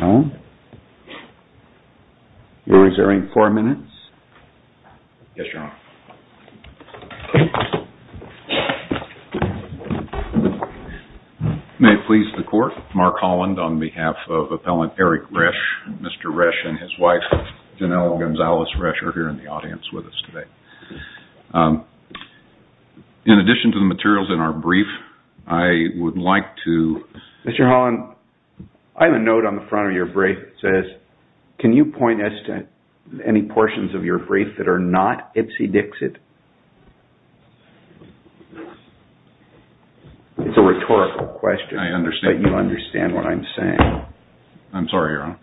No? You're reserving four minutes? Yes, Your Honor. May it please the court, Mark Holland on behalf of appellant Eric Resch. Mr. Resch and his wife, Janelle Gonzalez Resch, are here in the audience with us today. In addition to the materials in our brief, I would like to... It's a rhetorical question, but you understand what I'm saying. I'm sorry, Your Honor.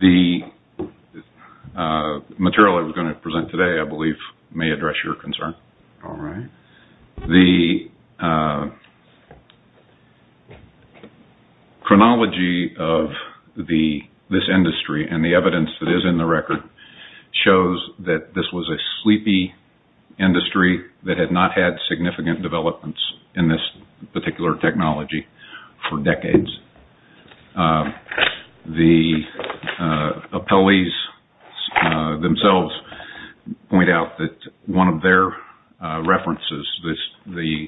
The material I was going to present today, I believe, may address your concern. All right. The chronology of this industry and the evidence that is in the record shows that this was a sleepy industry that had not had significant developments in this particular technology for decades. The appellees themselves point out that one of their references, the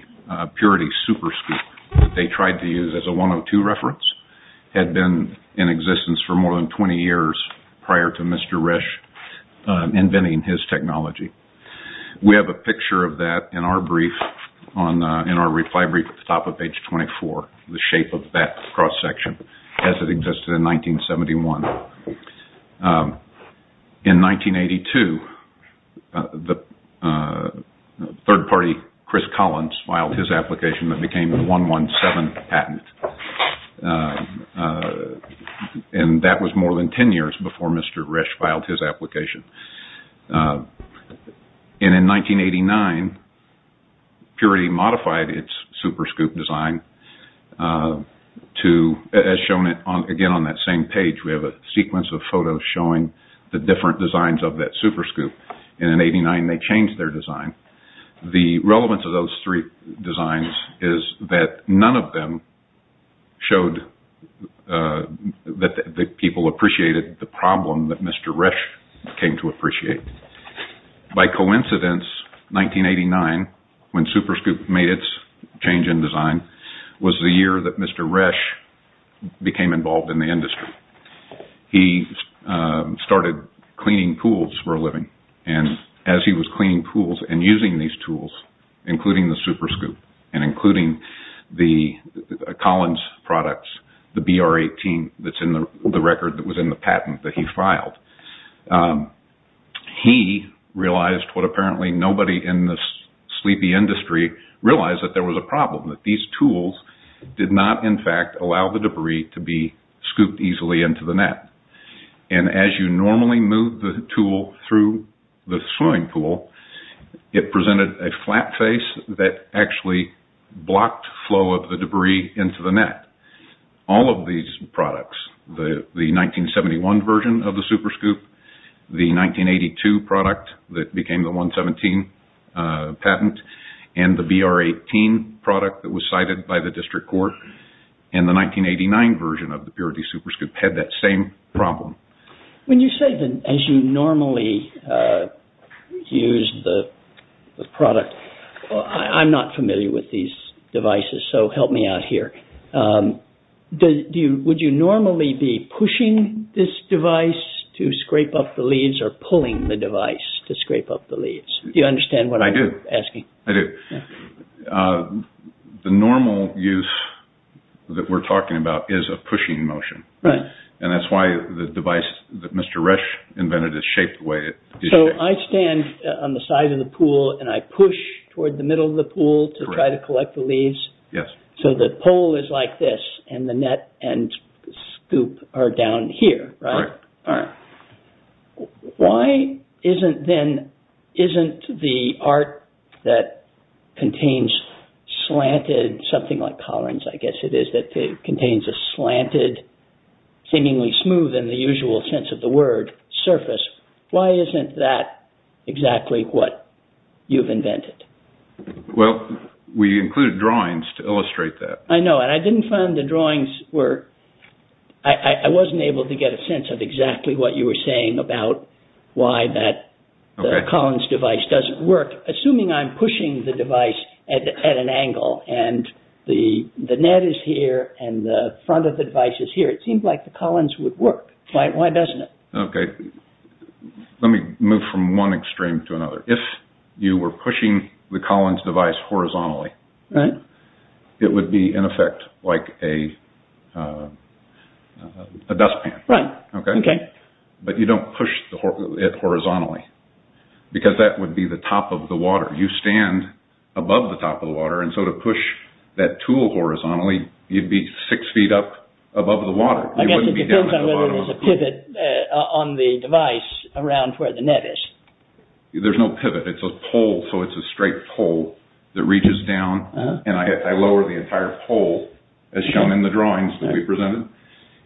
Purity Super Scoop that they tried to use as a 102 reference, had been in existence for more than 20 years prior to Mr. Resch inventing his technology. We have a picture of that in our reply brief at the top of page 24, the shape of that cross section, as it existed in 1971. In 1982, the third party, Chris Collins, filed his application that became a 117 patent. That was more than 10 years before Mr. Resch filed his application. In 1989, Purity modified its Super Scoop design, as shown again on that same page. We have a sequence of photos showing the different designs of that Super Scoop. In 1989, they changed their design. The relevance of those three designs is that none of them showed that people appreciated the problem that Mr. Resch came to appreciate. By coincidence, 1989, when Super Scoop made its change in design, was the year that Mr. Resch became involved in the industry. He started cleaning pools for a living. As he was cleaning pools and using these tools, including the Super Scoop and including the Collins products, the BR-18 that's in the record that was in the patent that he filed, he realized what apparently nobody in this sleepy industry realized, that there was a problem. These tools did not, in fact, allow the debris to be scooped easily into the net. As you normally move the tool through the swimming pool, it presented a flat face that actually blocked flow of the debris into the net. All of these products, the 1971 version of the Super Scoop, the 1982 product that became the 117 patent, and the BR-18 product that was cited by the district court, and the 1989 version of the Purity Super Scoop had that same problem. When you say that as you normally use the product, I'm not familiar with these devices, so help me out here. Would you normally be pushing this device to scrape up the leads or pulling the device to scrape up the leads? Do you understand what I'm asking? I do. The normal use that we're talking about is a pushing motion. Right. That's why the device that Mr. Resch invented is shaped the way it is. I stand on the side of the pool, and I push toward the middle of the pool to try to collect the leads. Yes. The pole is like this, and the net and scoop are down here, right? Right. All right. Why isn't the art that contains slanted, something like collars I guess it is, that contains a slanted, seemingly smooth in the usual sense of the word, surface, why isn't that exactly what you've invented? Well, we included drawings to illustrate that. I know. I didn't find the drawings were, I wasn't able to get a sense of exactly what you were saying about why that Collins device doesn't work. Assuming I'm pushing the device at an angle, and the net is here, and the front of the device is here, it seems like the Collins would work. Why doesn't it? Okay. Let me move from one extreme to another. If you were pushing the Collins device horizontally, it would be in effect like a dustpan. Right. Okay. But you don't push it horizontally, because that would be the top of the water. You stand above the top of the water, and so to push that tool horizontally, you'd be six feet up above the water. I guess it depends on whether there's a pivot on the device around where the net is. There's no pivot. It's a pole, so it's a straight pole that reaches down, and I lower the entire pole as shown in the drawings that we presented.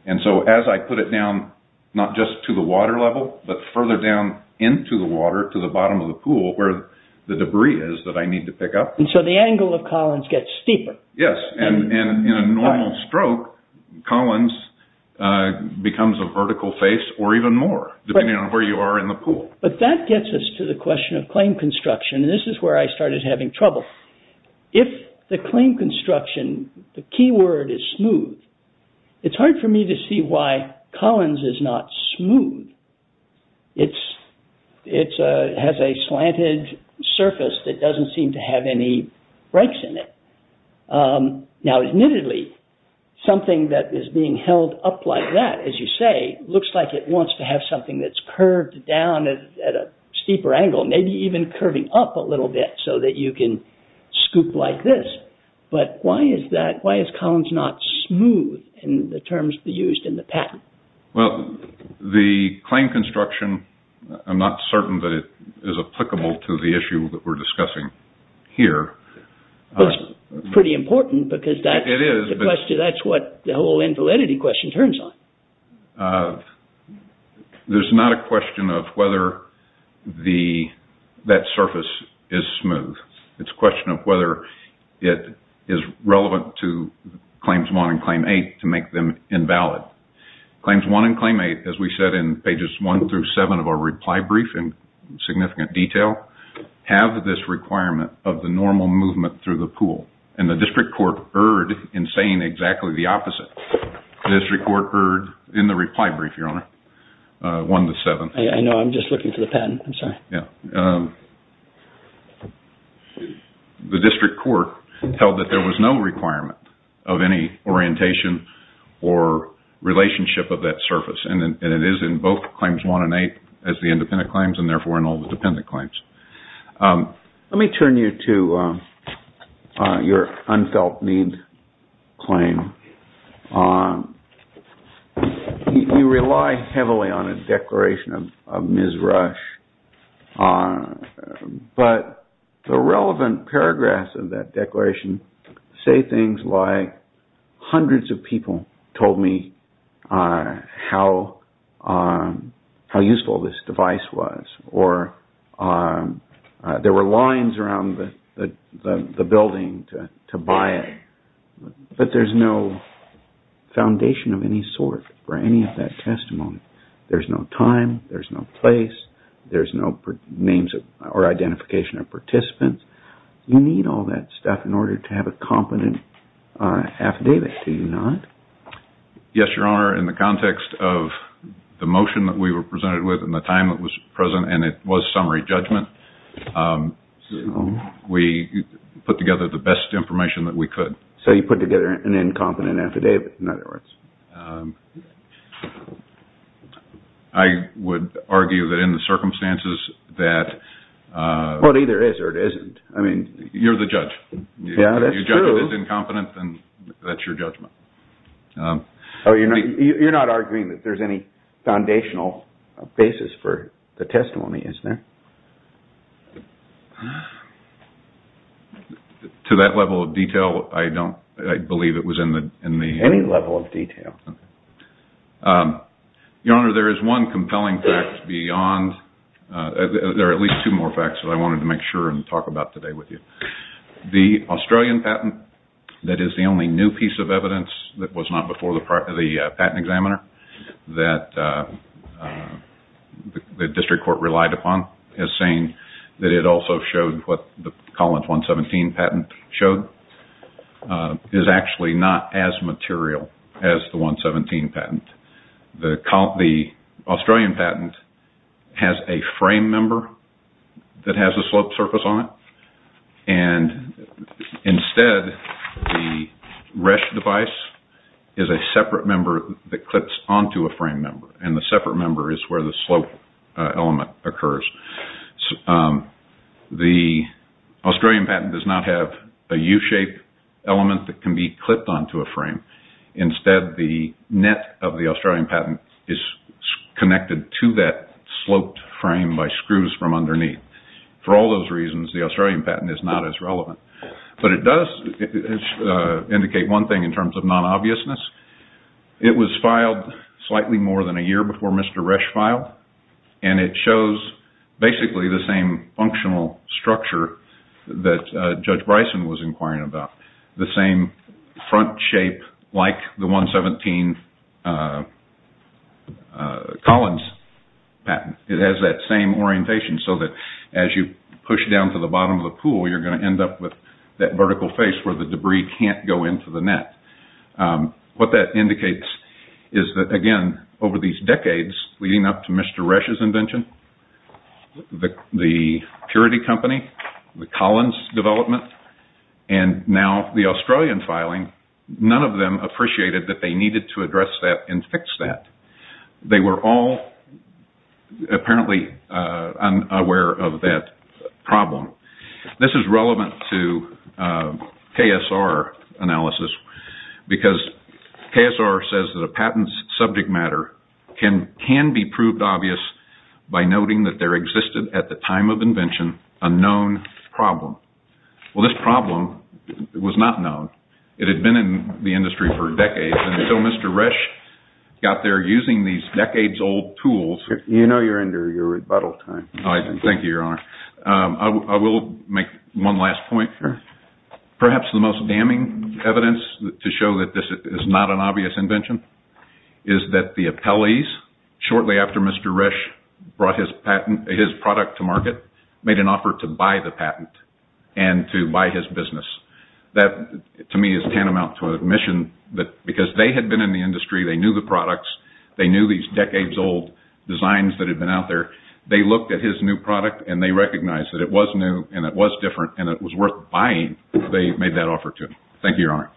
And so as I put it down, not just to the water level, but further down into the water to the bottom of the pool where the debris is that I need to pick up. And so the angle of Collins gets steeper. Yes, and in a normal stroke, Collins becomes a vertical face or even more, depending on where you are in the pool. But that gets us to the question of claim construction, and this is where I started having trouble. If the claim construction, the key word is smooth, it's hard for me to see why Collins is not smooth. It has a slanted surface that doesn't seem to have any breaks in it. Now admittedly, something that is being held up like that, as you say, looks like it wants to have something that's curved down at a steeper angle, maybe even curving up a little bit so that you can scoop like this. But why is that? Why is Collins not smooth in the terms used in the patent? Well, the claim construction, I'm not certain that it is applicable to the issue that we're discussing here. Well, it's pretty important because that's what the whole invalidity question turns on. There's not a question of whether that surface is smooth. It's a question of whether it is relevant to Claims 1 and Claim 8 to make them invalid. Claims 1 and Claim 8, as we said in pages 1 through 7 of our reply brief in significant detail, have this requirement of the normal movement through the pool. And the district court erred in saying exactly the opposite. The district court erred in the reply brief, Your Honor, 1 to 7. I know. I'm just looking for the patent. I'm sorry. Yeah. The district court held that there was no requirement of any orientation or relationship of that surface. And it is in both Claims 1 and 8 as the independent claims and therefore in all the dependent claims. Let me turn you to your unfelt need claim. You rely heavily on a declaration of Ms. Rush. But the relevant paragraphs of that declaration say things like hundreds of people told me how useful this device was. Or there were lines around the building to buy it. But there's no foundation of any sort for any of that testimony. There's no time, there's no place, there's no names or identification of participants. You need all that stuff in order to have a competent affidavit, do you not? Yes, Your Honor. In the context of the motion that we were presented with and the time that was present and it was summary judgment, we put together the best information that we could. So you put together an incompetent affidavit, in other words. I would argue that in the circumstances that... Well, it either is or it isn't. You're the judge. Yeah, that's true. If you judge it as incompetent, then that's your judgment. You're not arguing that there's any foundational basis for the testimony, is there? To that level of detail, I believe it was in the... Any level of detail. Your Honor, there is one compelling fact beyond... There are at least two more facts that I wanted to make sure and talk about today with you. The Australian patent that is the only new piece of evidence that was not before the patent examiner that the district court relied upon as saying that it also showed what the Collins 117 patent showed is actually not as material as the 117 patent. The Australian patent has a frame member that has a slope surface on it. Instead, the Resch device is a separate member that clips onto a frame member and the separate member is where the slope element occurs. The Australian patent does not have a U-shaped element that can be clipped onto a frame. Instead, the net of the Australian patent is connected to that sloped frame by screws from underneath. For all those reasons, the Australian patent is not as relevant. But it does indicate one thing in terms of non-obviousness. It was filed slightly more than a year before Mr. Resch filed and it shows basically the same functional structure that Judge Bryson was inquiring about. The same front shape like the 117 Collins patent. It has that same orientation so that as you push down to the bottom of the pool, you're going to end up with that vertical face where the debris can't go into the net. What that indicates is that, again, over these decades leading up to Mr. Resch's invention, the Purity Company, the Collins development, and now the Australian filing, none of them appreciated that they needed to address that and fix that. They were all apparently unaware of that problem. This is relevant to KSR analysis because KSR says that a patent's subject matter can be proved obvious by noting that there existed at the time of invention a known problem. Well, this problem was not known. It had been in the industry for decades until Mr. Resch got there using these decades-old tools. You know you're under your rebuttal time. Thank you, Your Honor. I will make one last point. Perhaps the most damning evidence to show that this is not an obvious invention is that the appellees, shortly after Mr. Resch brought his product to market, made an offer to buy the patent and to buy his business. That, to me, is tantamount to admission that because they had been in the industry, they knew the products, they knew these decades-old designs that had been out there, they looked at his new product and they recognized that it was new and it was different and it was worth buying, they made that offer to him. Thank you, Your Honor.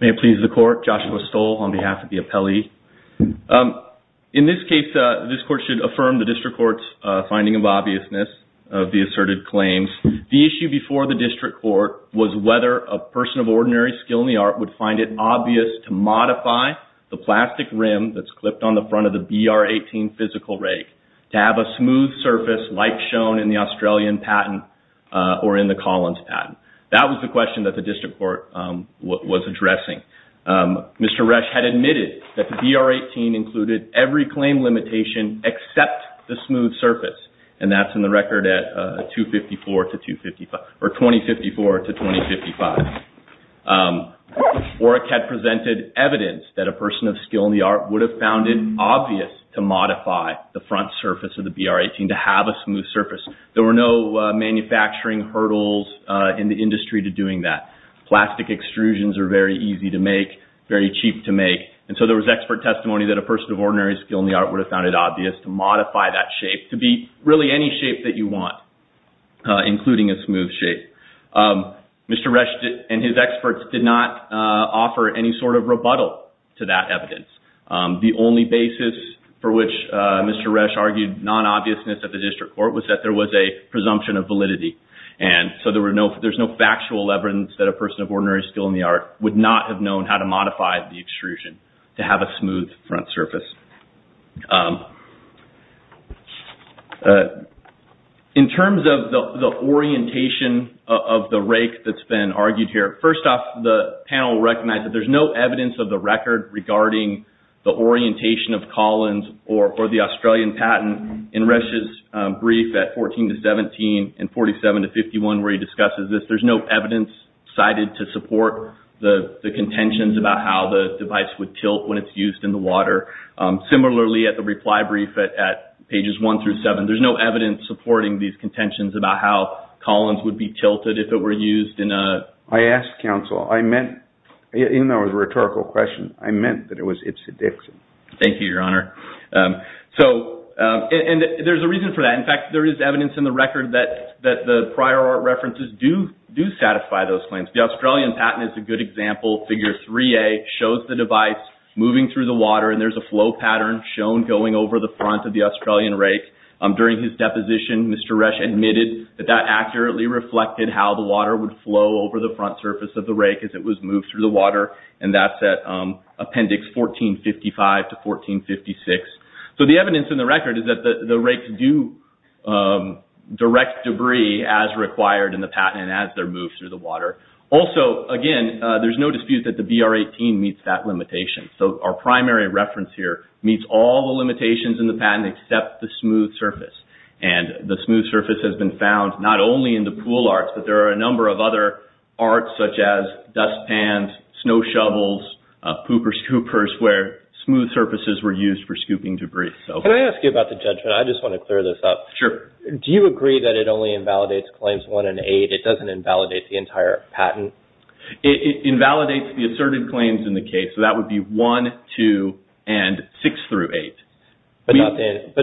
May it please the Court. Joshua Stoll on behalf of the appellee. In this case, this Court should affirm the District Court's finding of obviousness of the asserted claims. The issue before the District Court was whether a person of ordinary skill in the art would find it obvious to modify the plastic rim that's clipped on the front of the BR-18 physical rake to have a smooth surface like shown in the Australian patent or in the Collins patent. That was the question that the District Court was addressing. Mr. Resch had admitted that the BR-18 included every claim limitation except the smooth surface, and that's in the record at 2054 to 2055. Orrick had presented evidence that a person of skill in the art would have found it obvious to modify the front surface of the BR-18 to have a smooth surface. There were no manufacturing hurdles in the industry to doing that. Plastic extrusions are very easy to make, very cheap to make, and so there was expert testimony that a person of ordinary skill in the art would have found it obvious to modify that shape to be really any shape that you want, including a smooth shape. Mr. Resch and his experts did not offer any sort of rebuttal to that evidence. The only basis for which Mr. Resch argued non-obviousness at the District Court was that there was a presumption of validity, and so there's no factual evidence that a person of ordinary skill in the art would not have known how to modify the extrusion to have a smooth front surface. In terms of the orientation of the rake that's been argued here, first off, the panel recognized that there's no evidence of the record regarding the orientation of Collins or the Australian patent in Resch's brief at 14 to 17 and 47 to 51 where he discusses this. There's no evidence cited to support the contentions about how the device would tilt when it's used in the water. Similarly, at the reply brief at pages 1 through 7, there's no evidence supporting these contentions about how Collins would be tilted if it were used in a… I asked, counsel, I meant, even though it was a rhetorical question, I meant that it was Ipsit-Dixon. Thank you, Your Honor. There's a reason for that. In fact, there is evidence in the record that the prior art references do satisfy those claims. The Australian patent is a good example. Figure 3A shows the device moving through the water, and there's a flow pattern shown going over the front of the Australian rake. During his deposition, Mr. Resch admitted that that accurately reflected how the water would flow over the front surface of the rake as it was moved through the water, and that's at appendix 1455 to 1456. So, the evidence in the record is that the rakes do direct debris as required in the patent as they're moved through the water. Also, again, there's no dispute that the BR-18 meets that limitation. So, our primary reference here meets all the limitations in the patent except the smooth surface, and the smooth surface has been found not only in the pool arts, but there are a number of other arts such as dust pans, snow shovels, pooper scoopers where smooth surfaces were used for scooping debris. Can I ask you about the judgment? I just want to clear this up. Sure. Do you agree that it only invalidates claims 1 and 8? It doesn't invalidate the entire patent? It invalidates the asserted claims in the case, so that would be 1, 2, and 6 through 8. But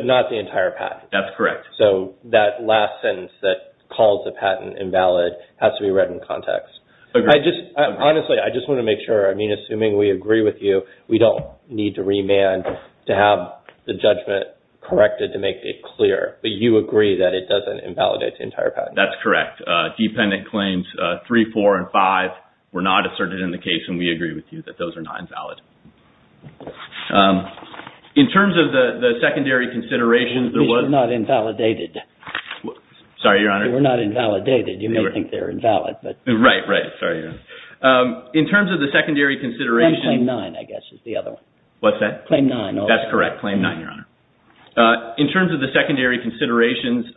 not the entire patent? That's correct. So, that last sentence that calls the patent invalid has to be read in context. Honestly, I just want to make sure. I mean, assuming we agree with you, we don't need to remand to have the judgment corrected to make it clear. But you agree that it doesn't invalidate the entire patent? That's correct. Dependent claims 3, 4, and 5 were not asserted in the case, and we agree with you that those are not invalid. In terms of the secondary considerations, there was... Sorry, Your Honor. They were not invalidated. You may think they're invalid, but... Right, right. Sorry, Your Honor. In terms of the secondary considerations... Claim 9, I guess, is the other one. What's that? Claim 9. That's correct. Claim 9, Your Honor. In terms of the secondary considerations,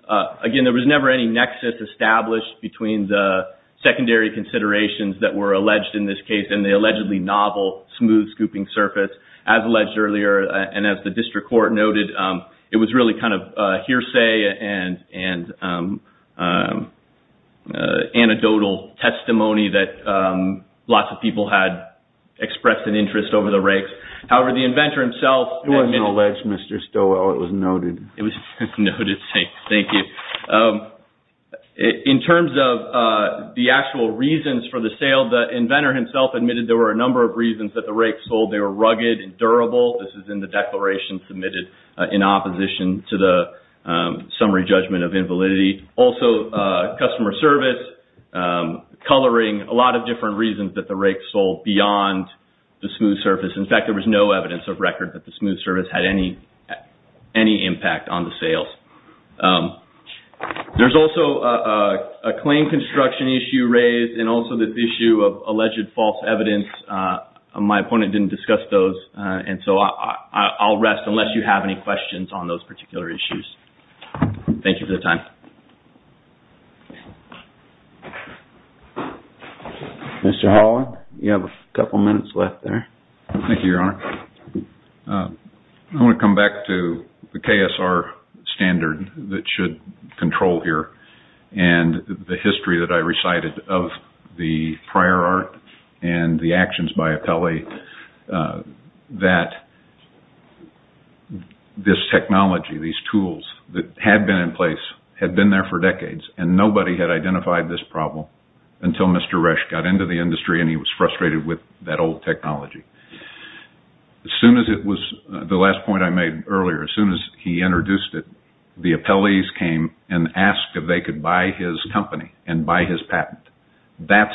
again, there was never any nexus established between the secondary considerations that were alleged in this case and the allegedly novel smooth scooping surface. As alleged earlier, and as the district court noted, it was really kind of hearsay and anecdotal testimony that lots of people had expressed an interest over the rakes. However, the inventor himself... It wasn't alleged, Mr. Stowell. It was noted. It was noted. Thank you. In terms of the actual reasons for the sale, the inventor himself admitted there were a number of reasons that the rakes sold. They were rugged and durable. This is in the declaration submitted in opposition to the summary judgment of invalidity. Also, customer service, coloring, a lot of different reasons that the rakes sold beyond the smooth surface. In fact, there was no evidence of record that the smooth surface had any impact on the sales. There's also a claim construction issue raised and also this issue of alleged false evidence. My opponent didn't discuss those, and so I'll rest unless you have any questions on those particular issues. Thank you for the time. Mr. Holland, you have a couple minutes left there. Thank you, Your Honor. I want to come back to the KSR standard that should control here and the history that I recited of the prior art and the actions by appellee that this technology, these tools that had been in place, had been there for decades, and nobody had identified this problem until Mr. Resch got into the industry and he was frustrated with that old technology. The last point I made earlier, as soon as he introduced it, the appellees came and asked if they could buy his company and buy his patent. That's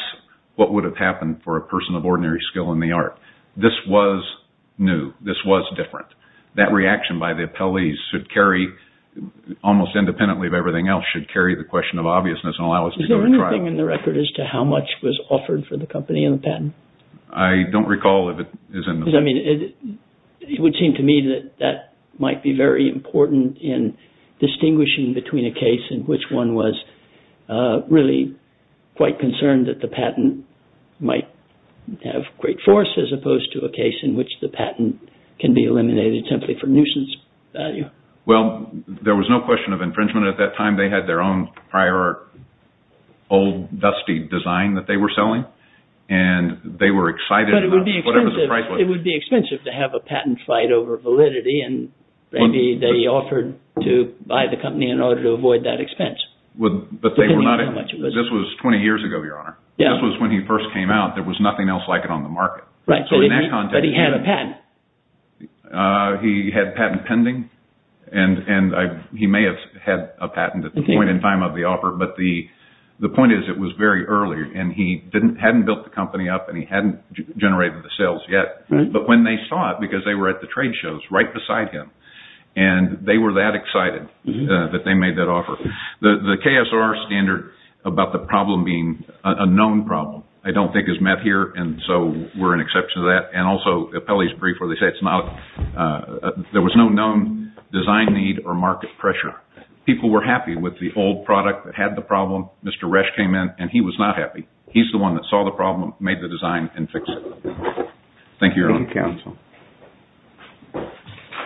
what would have happened for a person of ordinary skill in the art. This was new. This was different. That reaction by the appellees should carry, almost independently of everything else, should carry the question of obviousness and allow us to go to trial. Is there anything in the record as to how much was offered for the company and the patent? I don't recall if it is in the record. It would seem to me that that might be very important in distinguishing between a case in which one was really quite concerned that the patent might have great force as opposed to a case in which the patent can be eliminated simply for nuisance value. Well, there was no question of infringement at that time. They had their own prior art, old dusty design that they were selling and they were excited about whatever the price was. But it would be expensive to have a patent fight over validity and maybe they offered to buy the company in order to avoid that expense. But this was 20 years ago, Your Honor. This was when he first came out. There was nothing else like it on the market. But he had a patent. He had a patent pending. He may have had a patent at the point in time of the offer, but the point is it was very early and he hadn't built the company up and he hadn't generated the sales yet. But when they saw it, because they were at the trade shows right beside him and they were that excited that they made that offer. The KSR standard about the problem being a known problem I don't think is met here and so we're an exception to that. And also, Pelley's brief where they say there was no known design need or market pressure. People were happy with the old product that had the problem. Mr. Resch came in and he was not happy. He's the one that saw the problem, made the design, and fixed it. Thank you, Your Honor. Thank you, counsel.